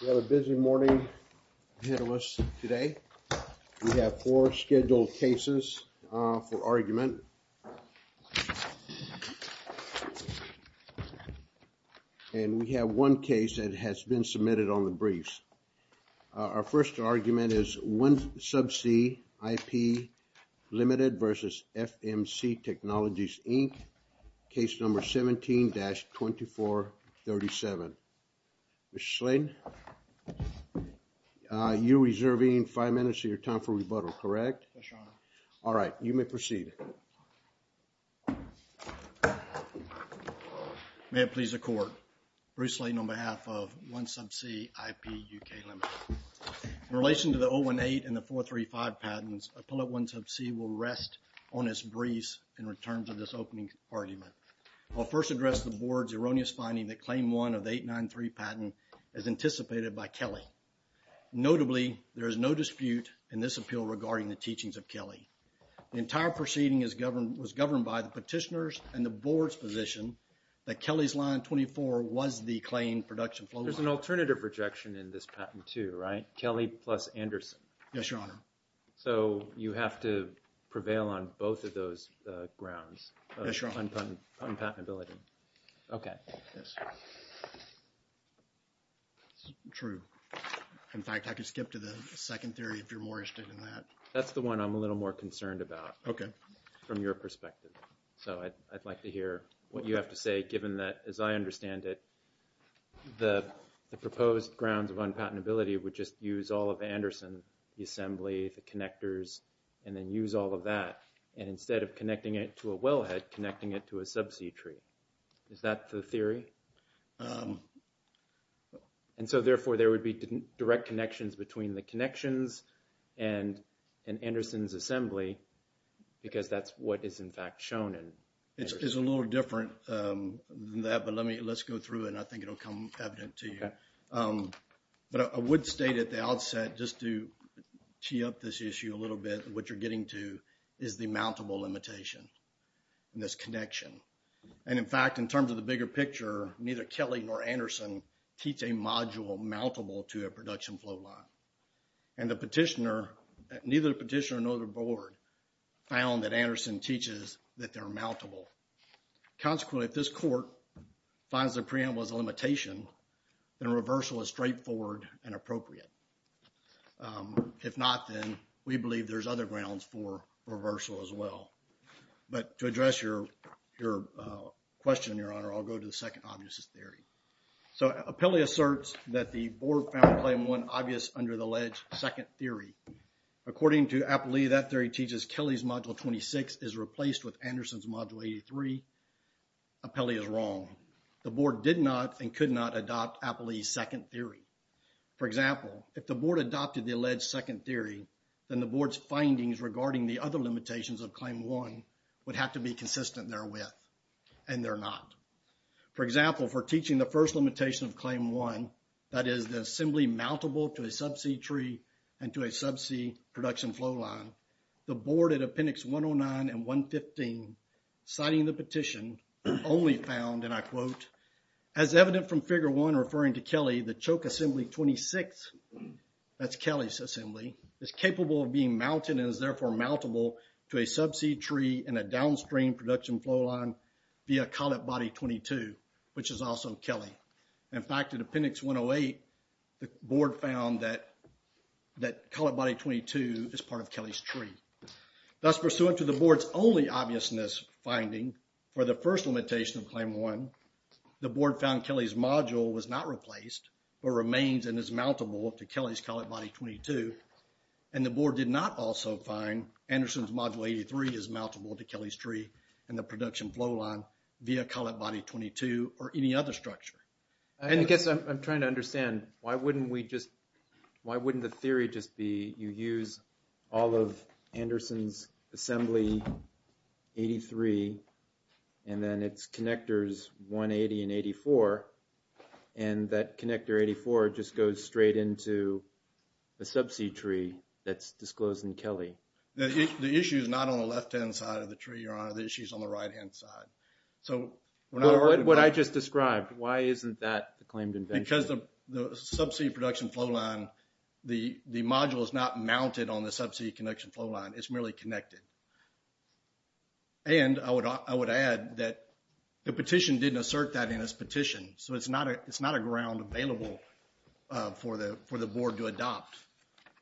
We have a busy morning ahead of us today. We have four scheduled cases for argument. And we have one case that has been submitted on the briefs. Our first argument is 1Subsea IP Limited v. FMC Technologies, Inc. Case number 17-2437. Mr. Slayton, you're reserving five minutes of your time for rebuttal, correct? Yes, Your Honor. All right, you may proceed. May it please the Court, Bruce Slayton on behalf of 1Subsea IP UK Limited. In relation to the 018 and the 435 patents, Appellate 1Subsea will rest on its briefs in return for this opening argument. I'll first address the Board's erroneous finding that Claim 1 of the 893 patent is anticipated by Kelly. Notably, there is no dispute in this appeal regarding the teachings of Kelly. The entire proceeding was governed by the petitioner's and the Board's position that Kelly's Line 24 was the claimed production flowline. There's an alternative rejection in this patent too, right? Kelly plus Anderson. Yes, Your Honor. So you have to prevail on both of those grounds. Yes, Your Honor. Unpatentability. Okay. True. In fact, I could skip to the second theory if you're more interested in that. That's the one I'm a little more concerned about. Okay. From your perspective. So I'd like to hear what you have to say given that, as I understand it, the proposed grounds of unpatentability would just use all of Anderson, the assembly, the connectors, and then use all of that. And instead of connecting it to a wellhead, connecting it to a subsea tree. Is that the theory? And so, therefore, there would be direct connections between the connections and Anderson's assembly because that's what is in fact shown. It's a little different than that. But let's go through it and I think it will come evident to you. But I would state at the outset just to tee up this issue a little bit, what you're getting to is the mountable limitation in this connection. And, in fact, in terms of the bigger picture, neither Kelly nor Anderson teach a module mountable to a production flowline. And the petitioner, neither the petitioner nor the board, found that Anderson teaches that they're mountable. Consequently, if this court finds the preamble as a limitation, then reversal is straightforward and appropriate. If not, then we believe there's other grounds for reversal as well. But to address your question, Your Honor, I'll go to the second obviousest theory. So, Apelli asserts that the board found claim one obvious under the alleged second theory. According to Apelli, that theory teaches Kelly's module 26 is replaced with Anderson's module 83. Apelli is wrong. The board did not and could not adopt Apelli's second theory. For example, if the board adopted the alleged second theory, then the board's findings regarding the other limitations of claim one would have to be consistent therewith. And they're not. For example, for teaching the first limitation of claim one, that is the assembly mountable to a subsea tree and to a subsea production flowline, the board at appendix 109 and 115, citing the petition, only found, and I quote, as evident from figure one referring to Kelly, the choke assembly 26, that's Kelly's assembly, is capable of being mounted and is therefore mountable to a subsea tree and a downstream production flowline via collet body 22, which is also Kelly. In fact, at appendix 108, the board found that collet body 22 is part of Kelly's tree. Thus, pursuant to the board's only obviousness finding for the first limitation of claim one, the board found Kelly's module was not replaced but remains and is mountable to Kelly's collet body 22. And the board did not also find Anderson's module 83 is mountable to Kelly's tree and the production flowline via collet body 22 or any other structure. And I guess I'm trying to understand, why wouldn't we just, why wouldn't the theory just be you use all of Anderson's assembly 83 and then it's connectors 180 and 84 and that connector 84 just goes straight into the subsea tree that's disclosed in Kelly? The issue is not on the left-hand side of the tree, your honor, the issue is on the right-hand side. What I just described, why isn't that the claimed invention? Because the subsea production flowline, the module is not mounted on the subsea connection flowline, it's merely connected. And I would add that the petition didn't assert that in its petition, so it's not a ground available for the board to adopt.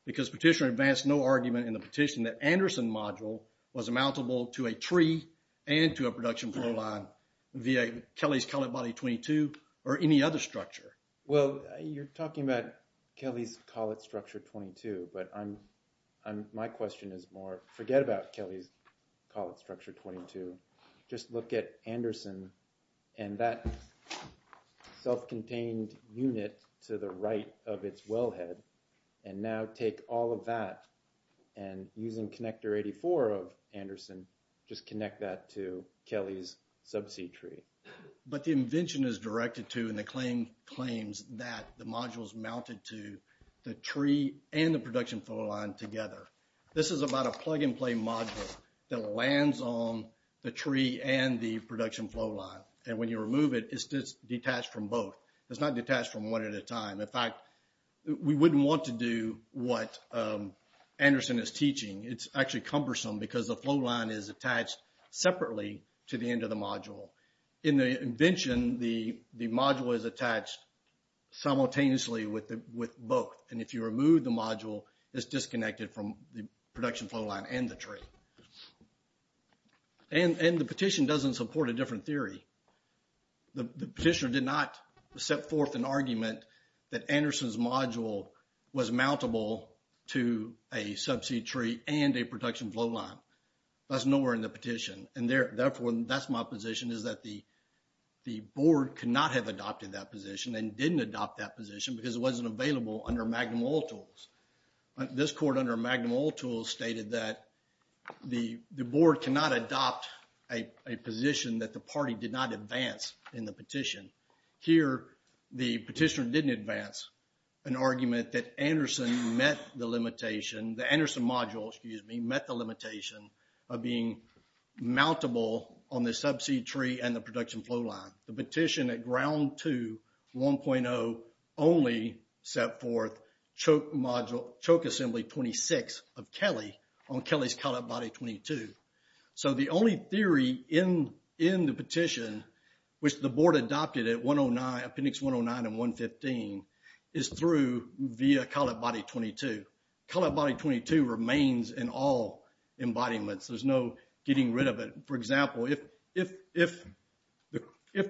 Because petitioner advanced no argument in the petition that Anderson module was mountable to a tree and to a production flowline via Kelly's collet body 22 or any other structure. Well, you're talking about Kelly's collet structure 22, but my question is more, forget about Kelly's collet structure 22, just look at Anderson and that self-contained unit to the right of its wellhead and now take all of that and using connector 84 of Anderson just connect that to Kelly's subsea tree. But the invention is directed to and the claim claims that the module is mounted to the tree and the production flowline together. This is about a plug-and-play module that lands on the tree and the production flowline. And when you remove it, it's detached from both. It's not detached from one at a time. In fact, we wouldn't want to do what Anderson is teaching. It's actually cumbersome because the flowline is attached separately to the end of the module. In the invention, the module is attached simultaneously with both. And if you remove the module, it's disconnected from the production flowline and the tree. And the petition doesn't support a different theory. The petitioner did not set forth an argument that Anderson's module was mountable to a subsea tree and a production flowline. That's nowhere in the petition. And therefore, that's my position, is that the board cannot have adopted that position and didn't adopt that position because it wasn't available under Magnum Oil Tools. This court under Magnum Oil Tools stated that the board cannot adopt a position that the party did not advance in the petition. Here, the petitioner didn't advance an argument that Anderson met the limitation. The Anderson module, excuse me, met the limitation of being mountable on the subsea tree and the production flowline. The petition at Ground 2, 1.0 only set forth Choke Assembly 26 of Kelly on Kelly's cut-up body 22. So the only theory in the petition which the board adopted at 109, appendix 109 and 115 is through via cut-up body 22. Cut-up body 22 remains in all embodiments. There's no getting rid of it. For example, if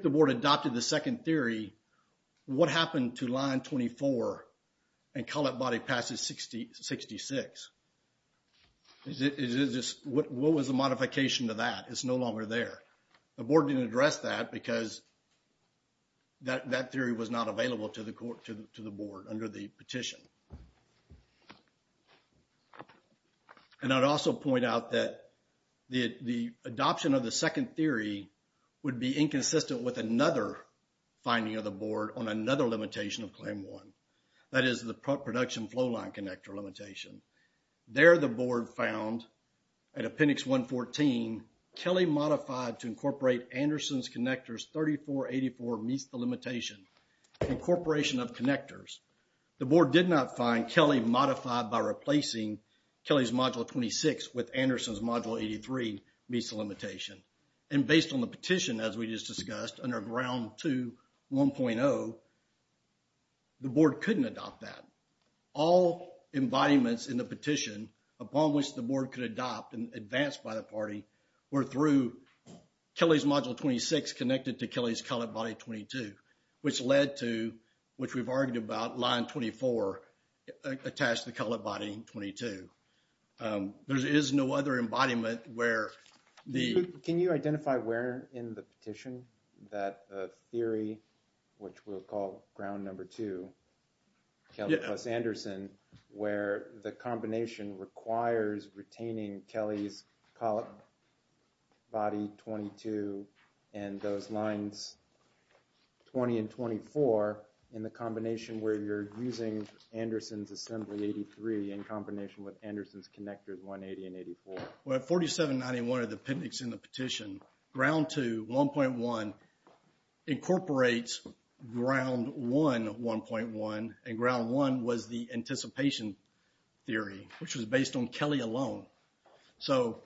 the board adopted the second theory, what happened to line 24 and cut-up body passage 66? What was the modification to that? It's no longer there. The board didn't address that because that theory was not available to the board under the petition. And I'd also point out that the adoption of the second theory would be inconsistent with another finding of the board on another limitation of Claim 1. That is the production flowline connector limitation. There, the board found at appendix 114, Kelly modified to incorporate Anderson's connectors 3484 meets the limitation, incorporation of connectors. The board did not find Kelly modified by replacing Kelly's module 26 with Anderson's module 83 meets the limitation. And based on the petition, as we just discussed, under Ground 2, 1.0, the board couldn't adopt that. All embodiments in the petition upon which the board could adopt and advance by the party were through Kelly's module 26 connected to Kelly's cut-up body 22, which led to, which we've argued about, line 24 attached to the cut-up body 22. There is no other embodiment where the... Can you identify where in the petition that theory, which we'll call Ground Number 2, Kelly plus Anderson, where the combination requires retaining Kelly's cut-up body 22 and those lines 20 and 24 in the combination where you're using Anderson's assembly 83 in combination with Anderson's connectors 180 and 84? Well, at 4791 of the appendix in the petition, Ground 2, 1.1 incorporates Ground 1, 1.1, and Ground 1 was the anticipation theory, which was based on Kelly alone. So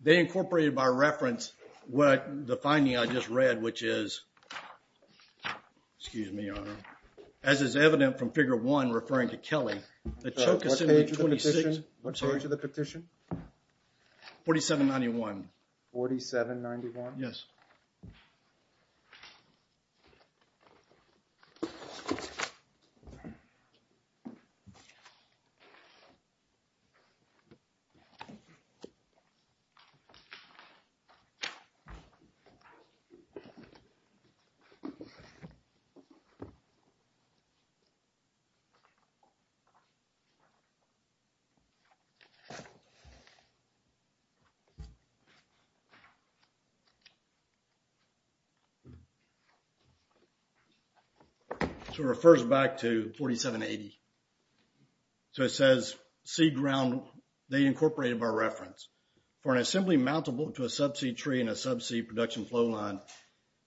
they incorporated by reference what the finding I just read, which is, excuse me, Your Honor, as is evident from Figure 1 referring to Kelly. What page of the petition? 4791. 4791? Yes. Okay. Okay. Okay. Okay. Okay. Okay. Okay. Okay. Okay. Okay. So it refers back to 4780. So it says seed ground, they incorporated by reference. For an assembly mountable to a subseed tree in a subseed production flowline,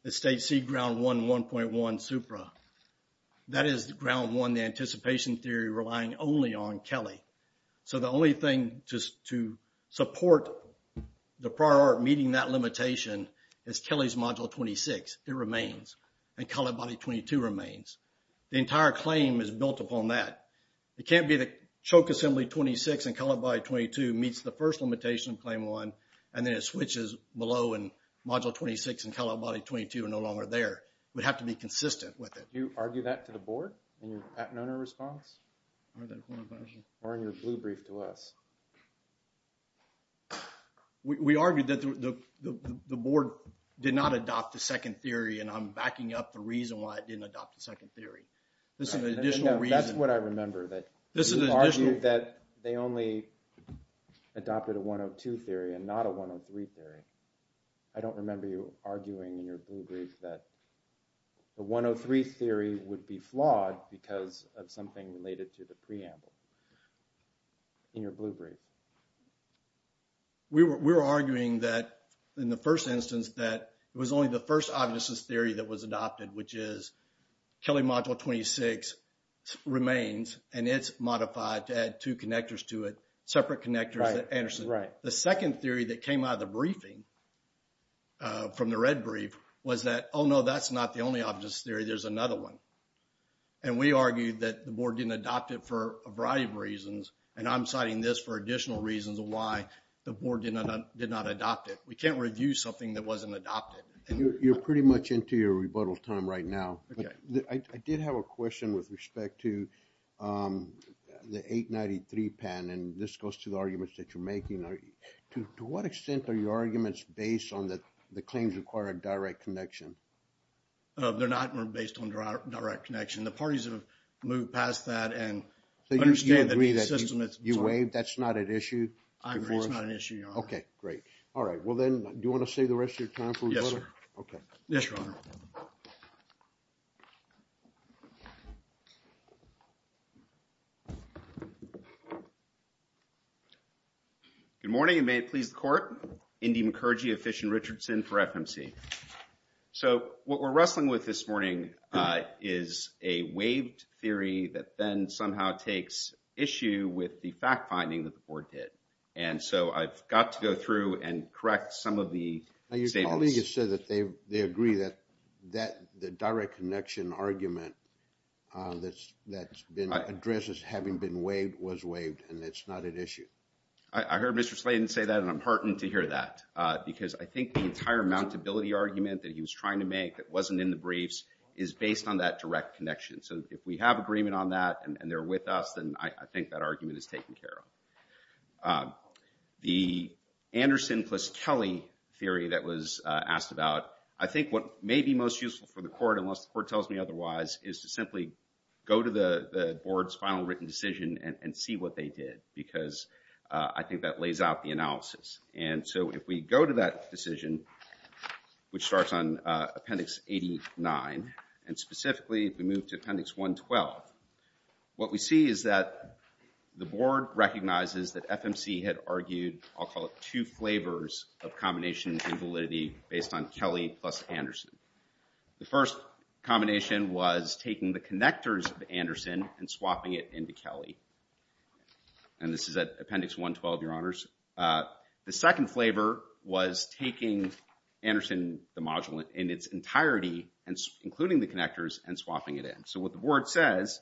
it states seed ground 1, 1.1 supra. That is Ground 1, the anticipation theory, relying only on Kelly. So the only thing to support the prior meeting that limitation is Kelly's module 26. It remains. And cut-up body 22 remains. The entire claim is built upon that. It can't be that choke assembly 26 and cut-up body 22 meets the first limitation of claim 1 and then it switches below and module 26 and cut-up body 22 are no longer there. It would have to be consistent with it. Do you argue that to the Board in your Patent Owner response? Or in your blue brief to us? We argued that the Board did not adopt the second theory, and I'm backing up the reason why it didn't adopt the second theory. This is an additional reason. No, that's what I remember. That you argued that they only adopted a 102 theory and not a 103 theory. I don't remember you arguing in your blue brief that the 103 theory would be flawed because of something related to the preamble. In your blue brief. We were arguing that in the first instance that it was only the first obviousness theory that was adopted, which is Kelly module 26 remains and it's modified to add two connectors to it, separate connectors that Anderson. The second theory that came out of the briefing, from the red brief, was that, oh, no, that's not the only obviousness theory. There's another one. And we argued that the Board didn't adopt it for a variety of reasons, and I'm citing this for additional reasons of why the Board did not adopt it. We can't review something that wasn't adopted. You're pretty much into your rebuttal time right now. I did have a question with respect to the 893 pen, and this goes to the arguments that you're making. To what extent are your arguments based on the claims requiring direct connection? They're not based on direct connection. The parties have moved past that. So you agree that you waived? That's not an issue? I agree it's not an issue, Your Honor. Okay, great. All right, well then, do you want to save the rest of your time for rebuttal? Yes, sir. Okay. Yes, Your Honor. Good morning, and may it please the Court. Indy McKergee of Fish and Richardson for FMC. So what we're wrestling with this morning is a waived theory that then somehow takes issue with the fact-finding that the Board did. And so I've got to go through and correct some of the statements. Your colleague has said that they agree that the direct connection argument that's been addressed as having been waived was waived, and it's not an issue. I heard Mr. Sladen say that, and I'm heartened to hear that, because I think the entire mountability argument that he was trying to make that wasn't in the briefs is based on that direct connection. So if we have agreement on that and they're with us, then I think that argument is taken care of. The Anderson plus Kelly theory that was asked about, I think what may be most useful for the Court, unless the Court tells me otherwise, is to simply go to the Board's final written decision and see what they did, because I think that lays out the analysis. And so if we go to that decision, which starts on Appendix 89, and specifically if we move to Appendix 112, what we see is that the Board recognizes that FMC had argued, I'll call it, two flavors of combination invalidity based on Kelly plus Anderson. The first combination was taking the connectors of Anderson and swapping it into Kelly. And this is at Appendix 112, Your Honors. The second flavor was taking Anderson, the module, in its entirety, including the connectors, and swapping it in. So what the Board says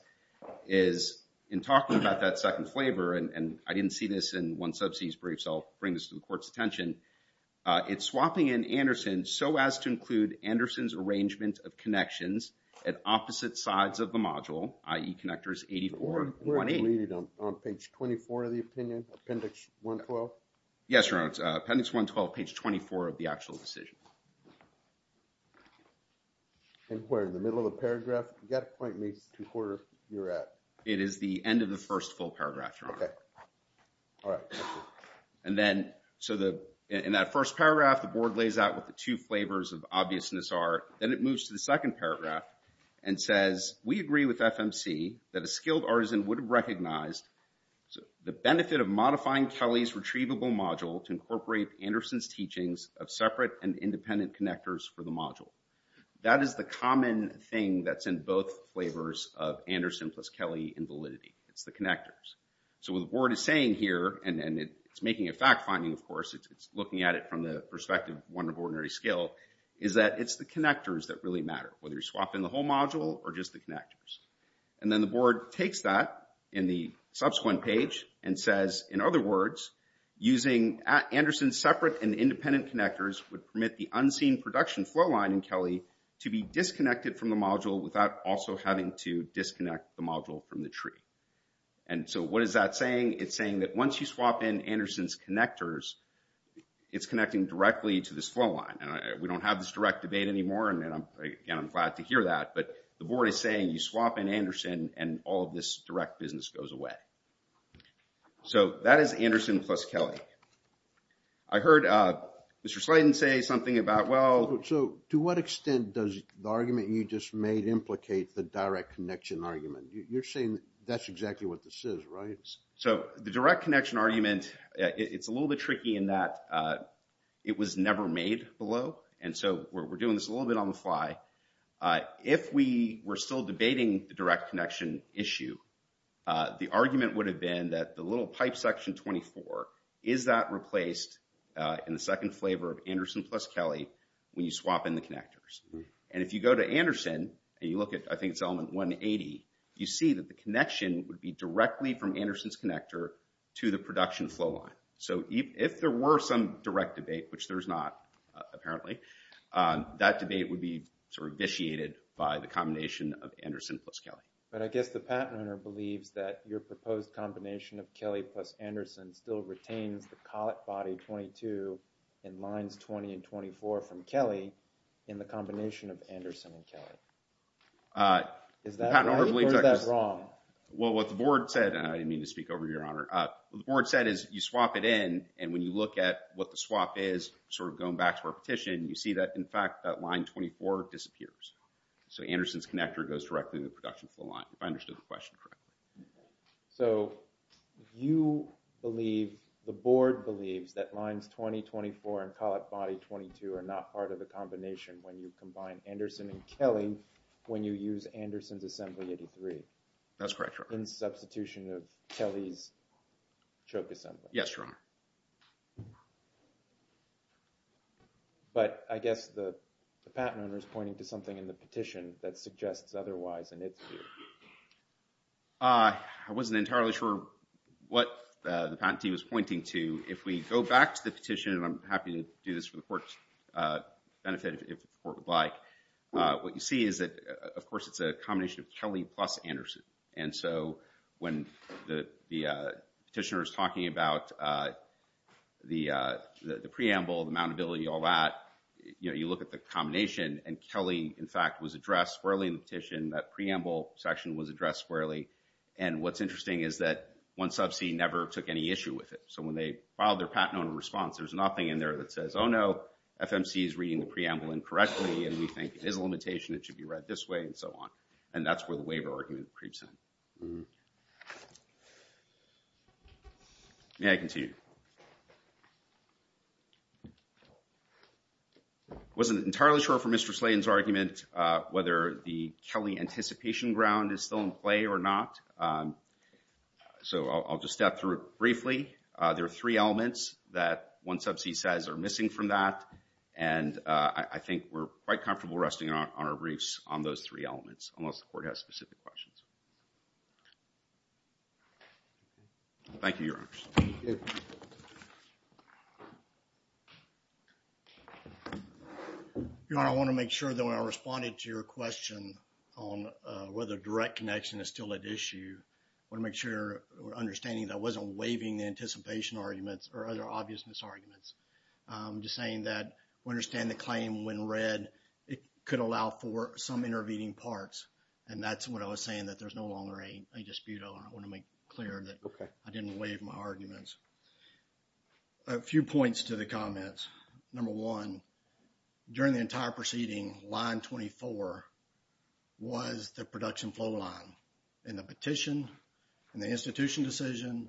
is, in talking about that second flavor, and I didn't see this in one sub-C's brief, so I'll bring this to the Court's attention, it's swapping in Anderson so as to include Anderson's arrangement of connections at opposite sides of the module, i.e. connectors 84 and 28. Were it deleted on page 24 of the opinion, Appendix 112? Yes, Your Honors. Appendix 112, page 24 of the actual decision. And where, in the middle of the paragraph? You've got to point me to where you're at. It is the end of the first full paragraph, Your Honor. Okay. All right. Thank you. And then, so in that first paragraph, the Board lays out what the two flavors of obviousness are. Then it moves to the second paragraph and says, We agree with FMC that a skilled artisan would have recognized the benefit of modifying Kelly's retrievable module to incorporate Anderson's teachings of separate and independent connectors for the module. That is the common thing that's in both flavors of Anderson plus Kelly in validity. It's the connectors. So what the Board is saying here, and it's making a fact-finding, of course, it's looking at it from the perspective of one of ordinary skill, is that it's the connectors that really matter, whether you're swapping the whole module or just the connectors. And then the Board takes that in the subsequent page and says, In other words, using Anderson's separate and independent connectors would permit the unseen production flowline in Kelly to be disconnected from the module without also having to disconnect the module from the tree. And so what is that saying? It's saying that once you swap in Anderson's connectors, it's connecting directly to this flowline. And we don't have this direct debate anymore, and again, I'm glad to hear that. But the Board is saying you swap in Anderson and all of this direct business goes away. So that is Anderson plus Kelly. I heard Mr. Slayden say something about, well... So to what extent does the argument you just made implicate the direct connection argument? You're saying that's exactly what this is, right? So the direct connection argument, it's a little bit tricky in that it was never made below. And so we're doing this a little bit on the fly. If we were still debating the direct connection issue, the argument would have been that the little pipe section 24, is that replaced in the second flavor of Anderson plus Kelly when you swap in the connectors? And if you go to Anderson and you look at, I think it's element 180, you see that the connection would be directly from Anderson's connector to the production flowline. So if there were some direct debate, which there's not, apparently, that debate would be sort of vitiated by the combination of Anderson plus Kelly. But I guess the patent owner believes that your proposed combination of Kelly plus Anderson still retains the collet body 22 in lines 20 and 24 from Kelly in the combination of Anderson and Kelly. Is that right or is that wrong? Well, what the board said, and I didn't mean to speak over your honor, what the board said is you swap it in and when you look at what the swap is, sort of going back to our petition, you see that, in fact, that line 24 disappears. So Anderson's connector goes directly to the production flowline, if I understood the question correctly. So you believe, the board believes, that lines 20, 24 and collet body 22 are not part of the combination when you combine Anderson and Kelly when you use Anderson's assembly 83? That's correct, your honor. In substitution of Kelly's choke assembly? Yes, your honor. But I guess the patent owner is pointing to something in the petition that suggests otherwise in its view. I wasn't entirely sure what the patentee was pointing to. If we go back to the petition, and I'm happy to do this for the court's benefit if the court would like, what you see is that, of course, it's a combination of Kelly plus Anderson. And so when the petitioner is talking about the preamble, the mountability, all that, you look at the combination and Kelly, in fact, was addressed squarely in the petition. That preamble section was addressed squarely. And what's interesting is that one sub-c never took any issue with it. So when they filed their patent owner response, there's nothing in there that says, oh no, FMC is reading the preamble incorrectly and we think it is a limitation, it should be read this way and so on. And that's where the waiver argument creeps in. May I continue? I wasn't entirely sure for Mr. Slayton's argument whether the Kelly anticipation ground is still in play or not. So I'll just step through it briefly. There are three elements that one sub-c says are missing from that. And I think we're quite comfortable resting on our briefs on those three elements, unless the court has specific questions. Thank you, Your Honors. Your Honor, I want to make sure that when I responded to your question on whether direct connection is still at issue, I want to make sure we're understanding that I wasn't waiving the anticipation arguments or other obvious misarguments. I'm just saying that we understand the claim when read, it could allow for some intervening parts. And that's what I was saying, that there's no longer a dispute. I want to make clear that I didn't waive my arguments. A few points to the comments. Number one, during the entire proceeding, line 24 was the production flow line. In the petition, in the institution decision,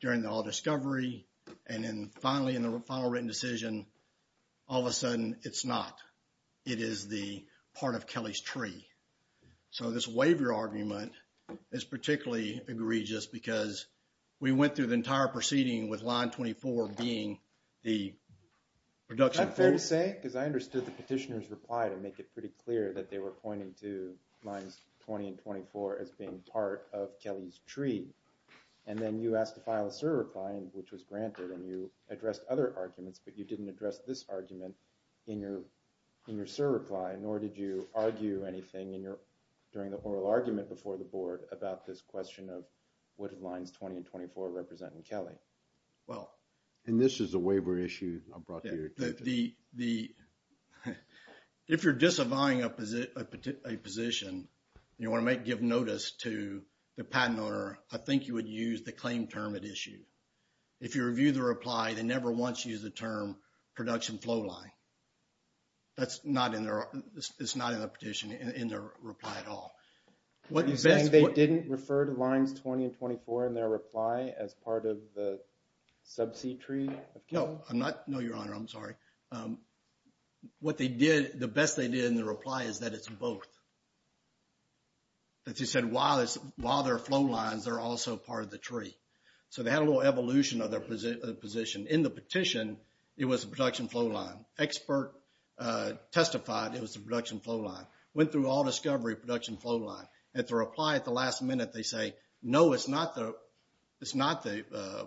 during the all discovery, and then finally in the final written decision, all of a sudden, it's not. It is the part of Kelly's tree. So this waiver argument is particularly egregious because we went through the entire proceeding with line 24 being the production. Is that fair to say? Because I understood the petitioner's reply to make it pretty clear that they were pointing to lines 20 and 24 as being part of Kelly's tree. And then you asked to file a certifying, which was granted, and you addressed other arguments, but you didn't address this argument in your certifying, nor did you argue anything during the oral argument before the board about this question of what lines 20 and 24 represent in Kelly. And this is a waiver issue I brought to your attention. If you're disavowing a position and you want to give notice to the patent owner, I think you would use the claim term at issue. If you review the reply, they never once use the term production flow line. That's not in the petition, in their reply at all. You're saying they didn't refer to lines 20 and 24 in their reply as part of the subsea tree? No, I'm not. No, Your Honor, I'm sorry. What they did, the best they did in the reply is that it's both. That they said while there are flow lines, they're also part of the tree. So they had a little evolution of their position. In the petition, it was a production flow line. Expert testified it was a production flow line. Went through all discovery production flow line. At the reply, at the last minute, they say, no, it's not the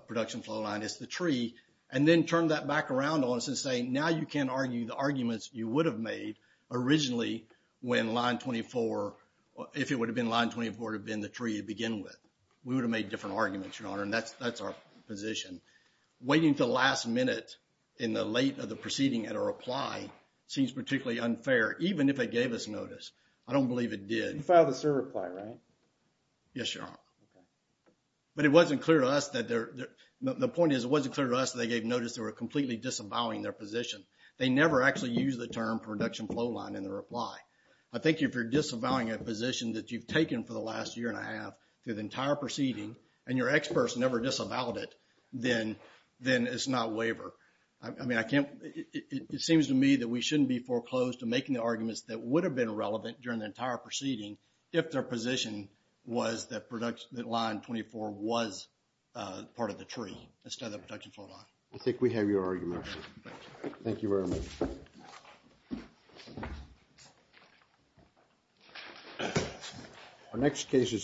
production flow line, it's the tree. And then turn that back around on us and say, now you can argue the arguments you would have made originally when line 24, if it would have been line 24, it would have been the tree to begin with. We would have made different arguments, Your Honor, and that's our position. Waiting until the last minute in the late of the proceeding at a reply seems particularly unfair, even if it gave us notice. I don't believe it did. You filed a cert reply, right? Yes, Your Honor. Okay. But it wasn't clear to us that they're, the point is it wasn't clear to us they gave notice they were completely disavowing their position. They never actually used the term production flow line in their reply. I think if you're disavowing a position that you've taken for the last year and a half, through the entire proceeding, and your experts never disavowed it, then it's not waiver. I mean, I can't, it seems to me that we shouldn't be foreclosed to making the arguments that would have been relevant during the entire proceeding if their position was that line 24 was part of the tree instead of the production flow line. I think we have your argument. Thank you very much. Thank you.